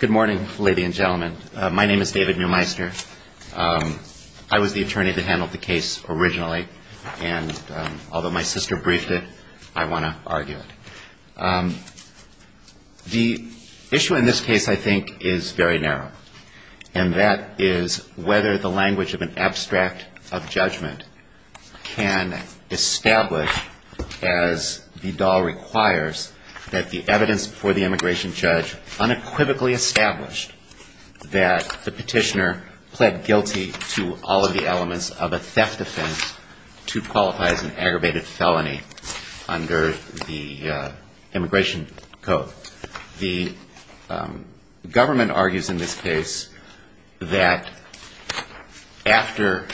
Good morning, ladies and gentlemen. My name is David Neumeister. I was the attorney that handled the case originally, and although my sister briefed it, I want to argue it. The issue in this case, I think, is very narrow, and that is whether the language of an abstract of judgment can establish, as Vidal requires, that the evidence before the immigration judge unequivocally established that the petitioner pled guilty to all of the elements of a theft offense to qualify as an aggravated felony under the Immigration Code. So the government argues in this case that after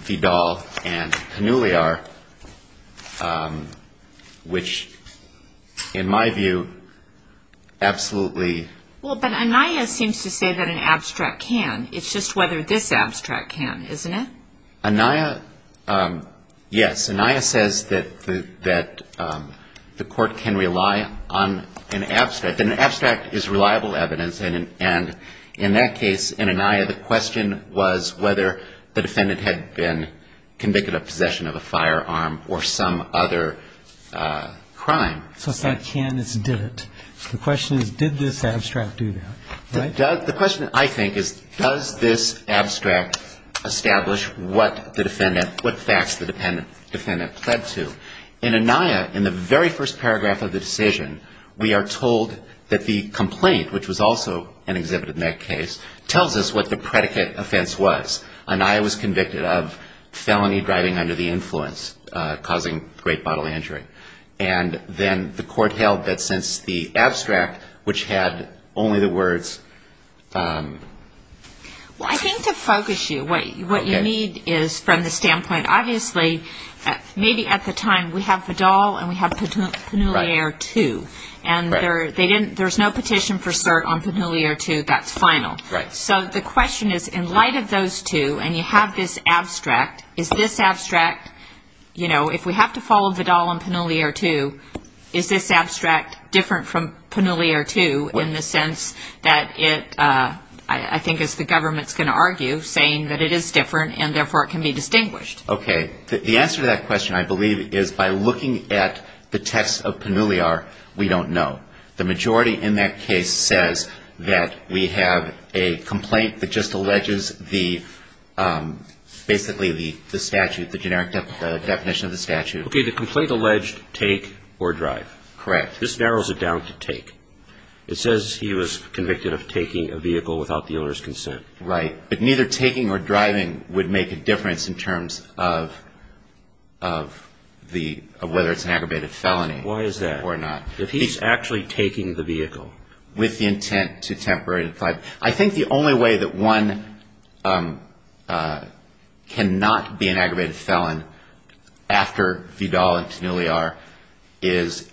Vidal and Hanouliar, which, in my view, absolutely... Well, but Anaya seems to say that an abstract can. It's just whether this abstract can, isn't it? Anaya, yes. Anaya says that the Court can rely on an abstract. An abstract is reliable evidence, and in that case, in Anaya, the question was whether the defendant had been convicted of possession of a firearm or some other crime. So it's not can, it's did it. The question is, did this abstract do that, right? The question, I think, is does this abstract establish what facts the defendant pled to? In Anaya, in the very first paragraph of the decision, we are told that the complaint, which was also an exhibit in that case, tells us what the predicate offense was. Anaya was convicted of felony driving under the influence, causing great bodily injury. And then the Court held that since the abstract, which had only the words... Well, I think to focus you, what you need is from the standpoint, obviously, maybe at the time, we have Vidal and we have Hanouliar too. And there's no petition for cert on Hanouliar too that's final. So the question is, in light of those two, and you have this abstract, is this abstract, you know, if we have to follow Vidal and Hanouliar too, is this abstract different from Hanouliar too in the sense that it, I think as the government's going to argue, saying that it is different and therefore it can be distinguished? Okay. The answer to that question, I believe, is by looking at the text of Hanouliar, we don't know. The majority in that case says that we have a complaint that just alleges the, basically the statute, the generic definition of the statute. Okay. The complaint alleged take or drive. Correct. This narrows it down to take. It says he was convicted of taking a vehicle without the owner's consent. Right. But neither taking or driving would make a difference in terms of the, of whether it's an aggravated felony. Why is that? Or not. If he's actually taking the vehicle. With the intent to temporarily, I think the only way that one cannot be an aggravated felon after Vidal and Hanouliar is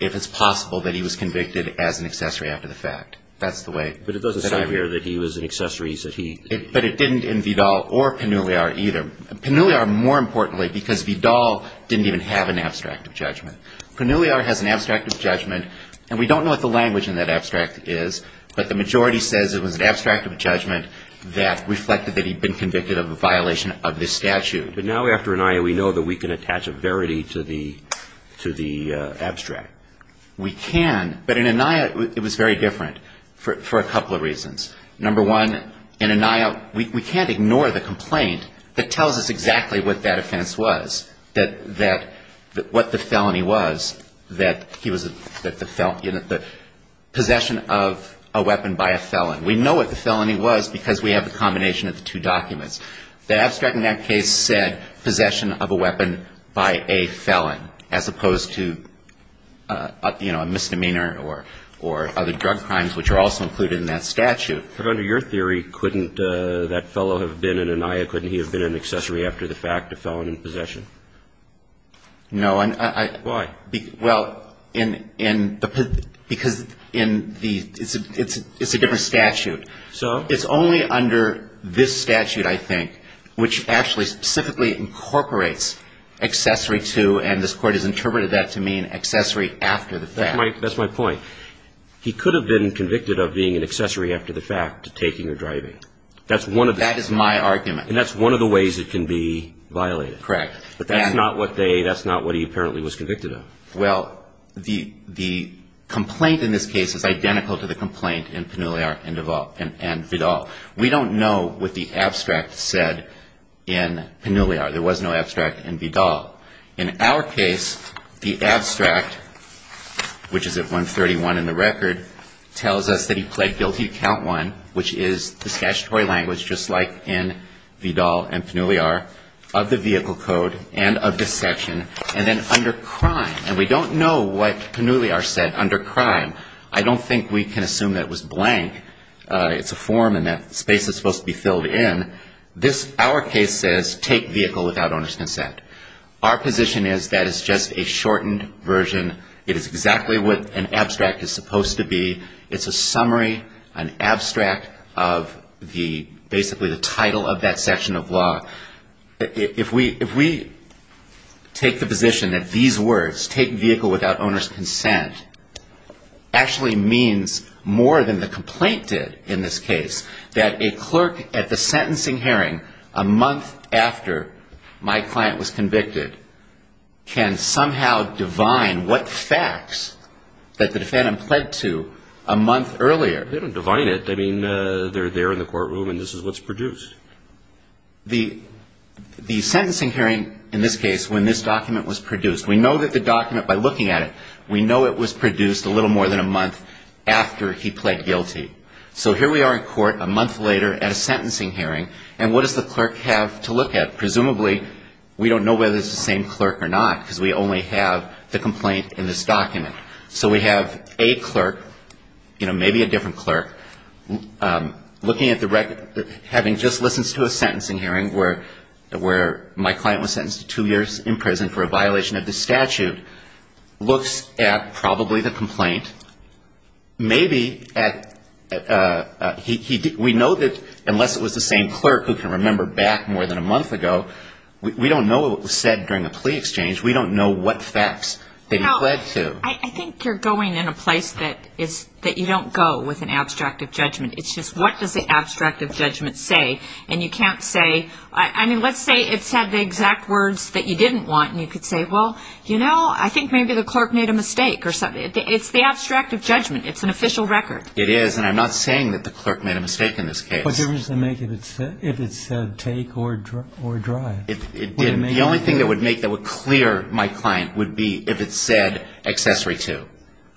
if it's possible that he was convicted as an accessory after the fact. That's the way. But it doesn't say here that he was an accessory. But it didn't in Vidal or Hanouliar either. Hanouliar, more importantly, because Vidal didn't even have an abstract of judgment. Hanouliar has an abstract of judgment, and we don't know what the language in that abstract is, but the majority says it was an abstract of judgment that reflected that he'd been convicted of a violation of this statute. But now after Annihia, we know that we can attach a verity to the abstract. We can, but in Annihia, it was very different for a couple of reasons. Number one, in Annihia, we can't ignore the complaint that tells us exactly what that offense was, that what the felony was, that he was, that the possession of a weapon by a felon. We know what the felony was because we have a combination of the two documents. The abstract in that case said possession of a weapon by a felon as opposed to, you know, a misdemeanor or other drug crimes, which are also included in that statute. But under your theory, couldn't that fellow have been in Annihia, couldn't he have been an accessory after the fact, a felon in possession? No. Why? Well, because it's a different statute. So? It's only under this statute, I think, which actually specifically incorporates accessory to, and this Court has interpreted that to mean accessory after the fact. That's my point. He could have been convicted of being an accessory after the fact to taking or driving. That is my argument. And that's one of the ways it can be violated. Correct. But that's not what they, that's not what he apparently was convicted of. Well, the complaint in this case is identical to the complaint in Pannulliar and Vidal. We don't know what the abstract said in Pannulliar. There was no abstract in Vidal. In our case, the abstract, which is at 131 in the record, tells us that he pled guilty to count one, which is the statutory language, just like in Vidal and Pannulliar, of the vehicle code and of dissection, and then under crime. And we don't know what Pannulliar said under crime. I don't think we can assume that it was blank. It's a form and that space is supposed to be filled in. Our case says, take vehicle without owner's consent. Our position is that it's just a shortened version. It is exactly what an abstract is supposed to be. It's a summary, an abstract of the, basically the title of that section of law. If we take the position that these words, take vehicle without owner's consent, actually means more than the complaint did in this case, that a clerk at the sentencing hearing a month after my client was convicted can somehow divine what facts that the defendant pled to a month earlier. They don't divine it. I mean, they're there in the courtroom and this is what's produced. The sentencing hearing, in this case, when this document was produced, we know that the document, by looking at it, we know it was produced a little more than a month after he pled guilty. So here we are in court a month later at a sentencing hearing and what does the clerk have to look at? Presumably, we don't know whether it's the same clerk or not because we only have the complaint in this document. So we have a clerk, maybe a different clerk, looking at the record, having just listened to a sentencing hearing where my client was We know that unless it was the same clerk who can remember back more than a month ago, we don't know what was said during a plea exchange. We don't know what facts that he pled to. I think you're going in a place that you don't go with an abstract of judgment. It's just what does the abstract of judgment say? And you can't say, I mean, let's say it said the exact words that you didn't want and you could say, well, you know, I think maybe the clerk made a mistake or something. It's the abstract of judgment. It's an official record. It is, and I'm not saying that the clerk made a mistake in this case. What difference does it make if it said take or drive? The only thing that would make that would clear my client would be if it said accessory to,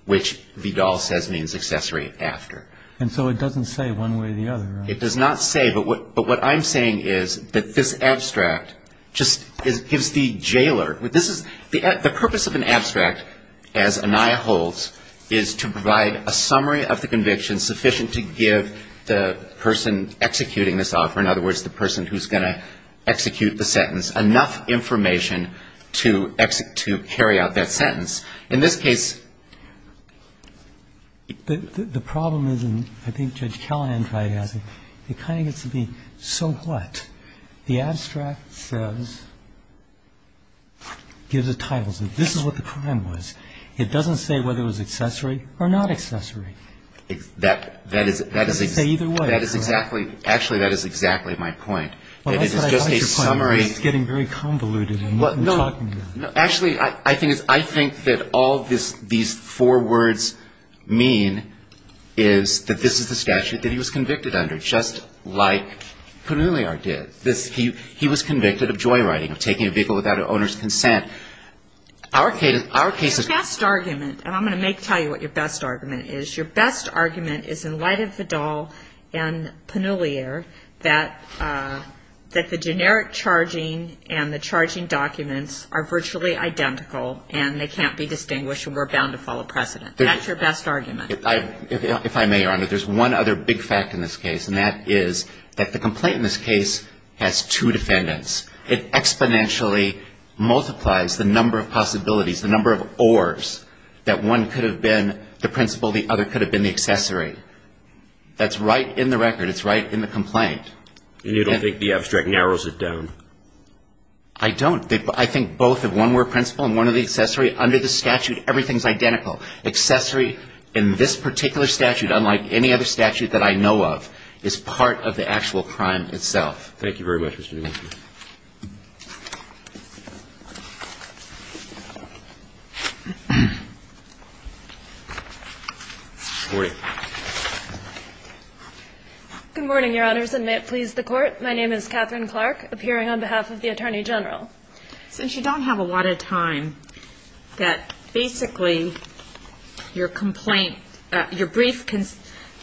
which Vidal says means accessory after. And so it doesn't say one way or the other, right? It does not say, but what I'm saying is that this abstract just gives the jailer, this is, the purpose of an abstract, as Anaya holds, is to provide a summary of the conviction sufficient to give the person executing this offer, in other words, the person who's going to execute the sentence, enough information to carry out that sentence. In this case, the problem is, and I think Judge Callahan tried to answer, it kind of gets to be, so what? The abstract says, gives a title. So this is what the crime was. It doesn't say whether it was accessory or not accessory. Say either way. That is exactly, actually, that is exactly my point. And it is just a summary. Well, that's not quite your point. You're just getting very convoluted in what you're talking about. Actually, I think that all these four words mean is that this is the statute that he was convicted under, just like Pannulliere did. He was convicted of joyriding, of taking a vehicle without an owner's consent. Our case is... Your best argument, and I'm going to tell you what your best argument is, your best argument is, in light of Vidal and Pannulliere, that the generic charging and the charging documents are virtually identical, and they can't be distinguished, and we're bound to follow precedent. That's your best argument. If I may, Your Honor, there's one other big fact in this case, and that is that the complaint in this case has two defendants. It exponentially multiplies the number of possibilities, the number of ors, that one could have been the principal, the other could have been the accessory. That's right in the record. It's right in the complaint. And you don't think the abstract narrows it down? I don't. I think both of one were principal and one were the accessory. Under the statute, everything is identical. Accessory in this particular statute, unlike any other statute that I know of, is part of the actual crime itself. Thank you very much, Mr. Domenico. Good morning, Your Honors, and may it please the Court. My name is Catherine Clark, appearing on behalf of the Attorney General. Since you don't have a lot of time, that basically your brief contends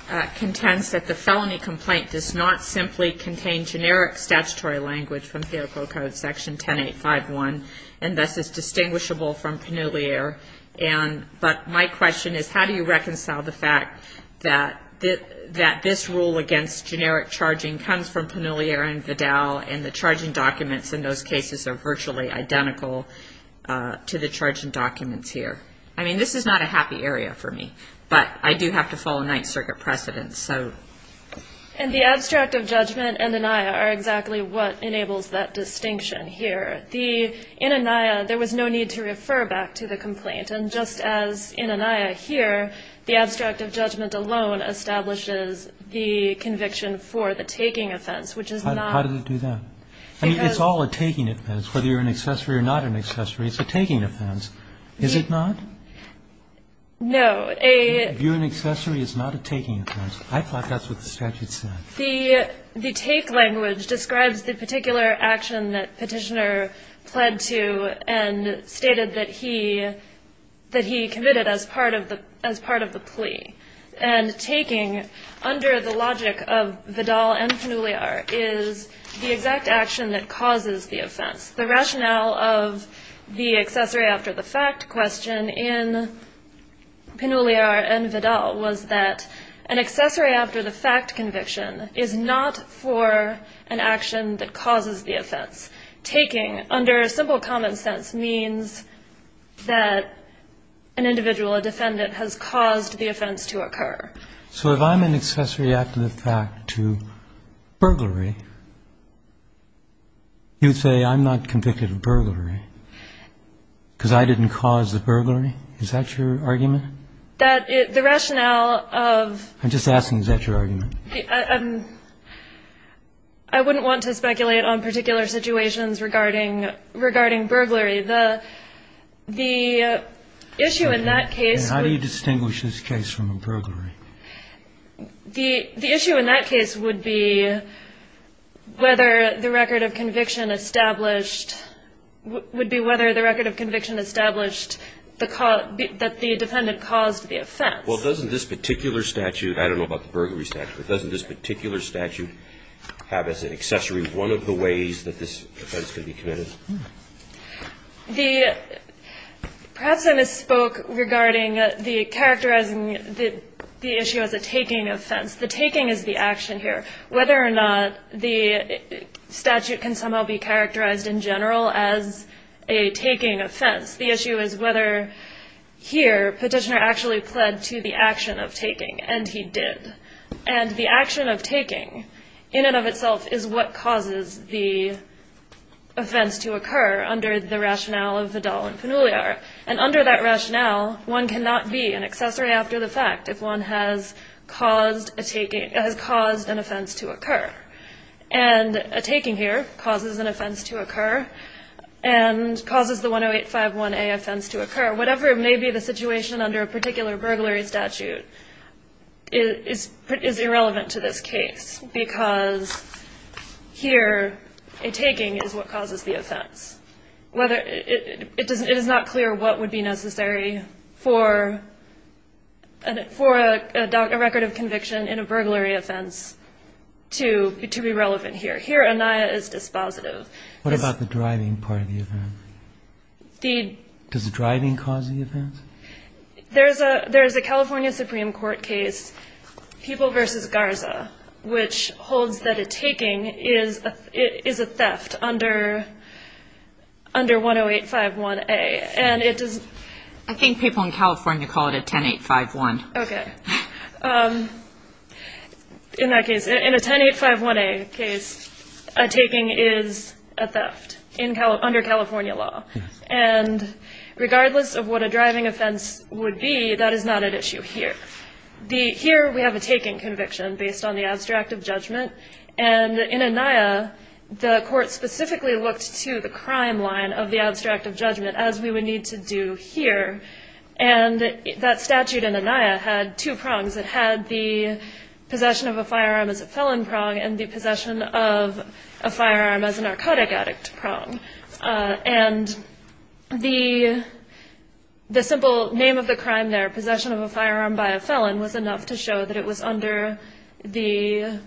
that the felony complaint does not simply contain generic statutory language from PO Code Section 10851, and thus is distinguishable from Pannuliere. But my question is how do you reconcile the fact that this rule against generic charging comes from Pannuliere and Vidal, and the charging documents in those cases are virtually identical to the charging documents here? I mean, this is not a happy area for me. But I do have to follow Ninth Circuit precedence. And the abstract of judgment and Annihia are exactly what enables that distinction here. In Annihia, there was no need to refer back to the complaint. And just as in Annihia here, the abstract of judgment alone establishes the conviction for the taking offense, which is not. How does it do that? I mean, it's all a taking offense. Whether you're an accessory or not an accessory, it's a taking offense. Is it not? No. If you're an accessory, it's not a taking offense. I thought that's what the statute said. The take language describes the particular action that Petitioner pled to and stated that he committed as part of the plea. And taking, under the logic of Vidal and Pannuliere, is the exact action that causes the offense. The rationale of the accessory after the fact question in Pannuliere and Vidal was that an accessory after the fact conviction is not for an action that causes the offense. Taking, under simple common sense, means that an individual, a defendant, has caused the offense to occur. So if I'm an accessory after the fact to burglary, you'd say I'm not convicted of burglary because I didn't cause the burglary? Is that your argument? That the rationale of the... I'm just asking, is that your argument? I wouldn't want to speculate on particular situations regarding burglary. The issue in that case... How do you distinguish this case from a burglary? The issue in that case would be whether the record of conviction established would be whether the record of conviction established that the defendant caused the offense. Well, doesn't this particular statute, I don't know about the burglary statute, but doesn't this particular statute have as an accessory one of the ways that this offense could be committed? Perhaps I misspoke regarding the characterizing the issue as a taking offense. The taking is the action here. Whether or not the statute can somehow be characterized in general as a taking offense. The issue is whether here petitioner actually pled to the action of taking, and he did. And the action of taking in and of itself is what causes the offense to occur under the rationale of Vidal and Panuliar. And under that rationale, one cannot be an accessory after the fact if one has caused an offense to occur. And a taking here causes an offense to occur and causes the 10851A offense to occur. Whatever may be the situation under a particular burglary statute is irrelevant to this case because here a taking is what causes the offense. It is not clear what would be necessary for a record of conviction in a burglary offense to be relevant here. Here ANIA is dispositive. What about the driving part of the offense? Does the driving cause the offense? There is a California Supreme Court case, People v. Garza, which holds that a taking is a theft under 10851A. I think people in California call it a 10851. Okay. In that case, in a 10851A case, a taking is a theft under California law. And regardless of what a driving offense would be, that is not at issue here. Here we have a taking conviction based on the abstract of judgment, and in ANIA the court specifically looked to the crime line of the abstract of judgment as we would need to do here. And that statute in ANIA had two prongs. It had the possession of a firearm as a felon prong and the possession of a firearm as a narcotic addict prong. And the simple name of the crime there, possession of a firearm by a felon, was enough to show that it was under the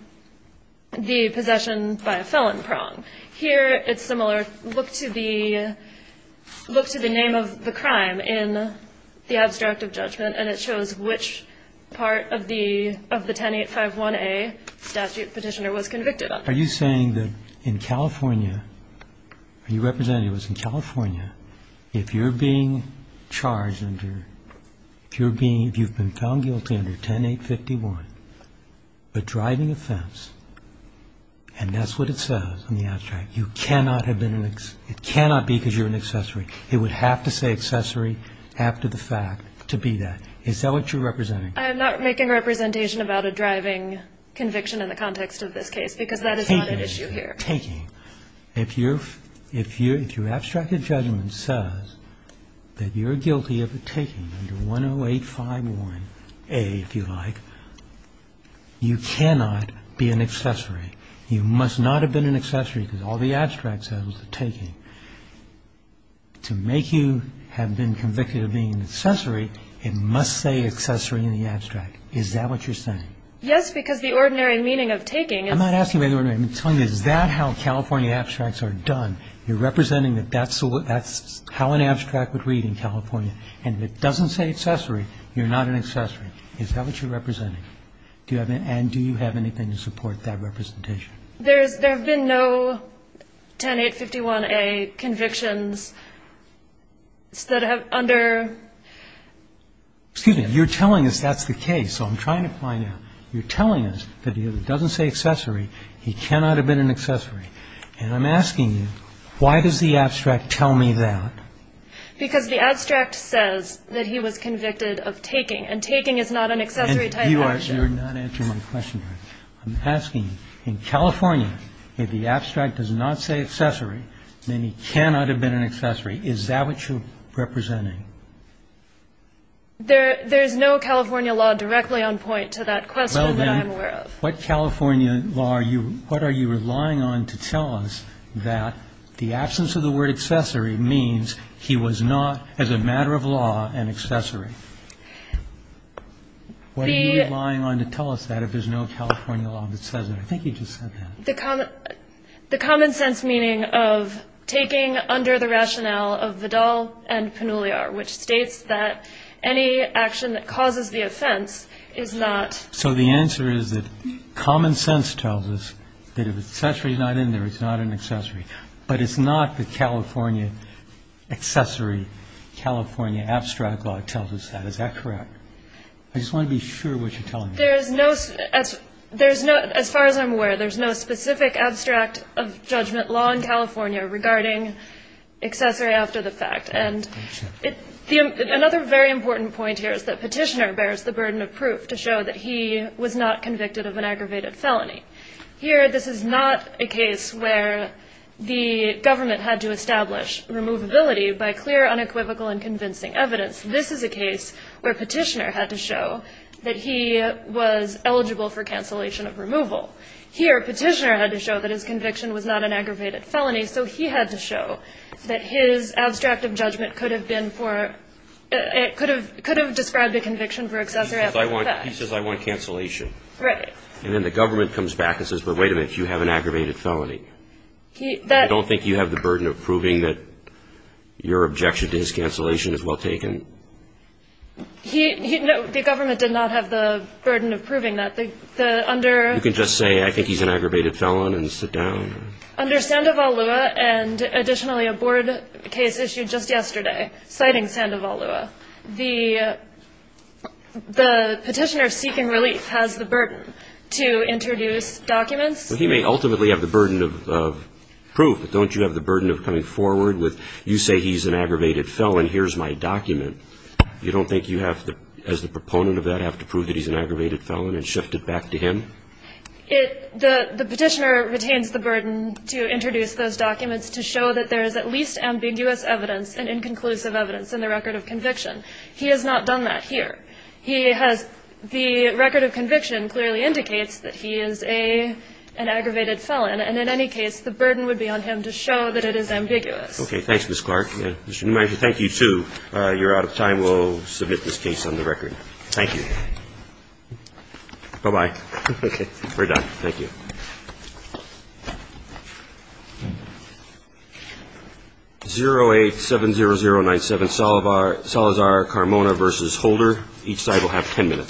possession by a felon prong. Here it's similar. Look to the name of the crime in the abstract of judgment, and it shows which part of the 10851A statute petitioner was convicted of. Are you saying that in California, are you representing it was in California, if you're being charged under, if you've been found guilty under 10851, a driving offense, and that's what it says in the abstract, you cannot have been, it cannot be because you're an accessory. It would have to say accessory after the fact to be that. Is that what you're representing? I'm not making a representation about a driving conviction in the context of this case because that is not an issue here. Taking. Taking. If your abstract of judgment says that you're guilty of a taking under 10851A, if you like, you cannot be an accessory. You must not have been an accessory because all the abstract says was a taking. To make you have been convicted of being an accessory, it must say accessory in the abstract. Is that what you're saying? Yes, because the ordinary meaning of taking is... I'm not asking about the ordinary. I'm telling you, is that how California abstracts are done? You're representing that that's how an abstract would read in California, and if it doesn't say accessory, you're not an accessory. Is that what you're representing? And do you have anything to support that representation? There have been no 10851A convictions that have under... Excuse me. You're telling us that's the case, so I'm trying to find out. You're telling us that if it doesn't say accessory, he cannot have been an accessory, and I'm asking you, why does the abstract tell me that? Because the abstract says that he was convicted of taking, and taking is not an accessory-type action. And you are not answering my question. I'm asking you, in California, if the abstract does not say accessory, then he cannot have been an accessory. Is that what you're representing? There's no California law directly on point to that question that I'm aware of. Well, then, what California law are you relying on to tell us that the absence of the word accessory means he was not, as a matter of law, an accessory? What are you relying on to tell us that if there's no California law that says that? I think you just said that. The common sense meaning of taking under the rationale of Vidal and Pannulliar, which states that any action that causes the offense is not... So the answer is that common sense tells us that if accessory is not in there, it's not an accessory. But it's not the California accessory, California abstract law tells us that. Is that correct? I just want to be sure what you're telling me. As far as I'm aware, there's no specific abstract of judgment law in California regarding accessory after the fact. And another very important point here is that Petitioner bears the burden of proof to show that he was not convicted of an aggravated felony. Here, this is not a case where the government had to establish removability by clear, unequivocal, and convincing evidence. This is a case where Petitioner had to show that he was eligible for cancellation of removal. Here, Petitioner had to show that his conviction was not an aggravated felony, so he had to show that his abstract of judgment could have been for, could have described a conviction for accessory after the fact. He says, I want cancellation. Right. And then the government comes back and says, but wait a minute, you have an aggravated felony. I don't think you have the burden of proving that your objection to his cancellation is well taken. No, the government did not have the burden of proving that. You can just say, I think he's an aggravated felon, and sit down. Under Sandoval Lua, and additionally a board case issued just yesterday citing Sandoval Lua, the Petitioner seeking relief has the burden to introduce documents. But he may ultimately have the burden of proof. Don't you have the burden of coming forward with, you say he's an aggravated felon. Here's my document. You don't think you have to, as the proponent of that, have to prove that he's an aggravated felon and shift it back to him? The Petitioner retains the burden to introduce those documents to show that there is at least He has not done that here. He has the record of conviction clearly indicates that he is an aggravated felon. And in any case, the burden would be on him to show that it is ambiguous. Okay. Thanks, Ms. Clark. Mr. Neumeyer, thank you, too. You're out of time. We'll submit this case on the record. Thank you. Bye-bye. Okay. We're done. Thank you. 0870097 Salazar Carmona v. Holder. Each side will have ten minutes.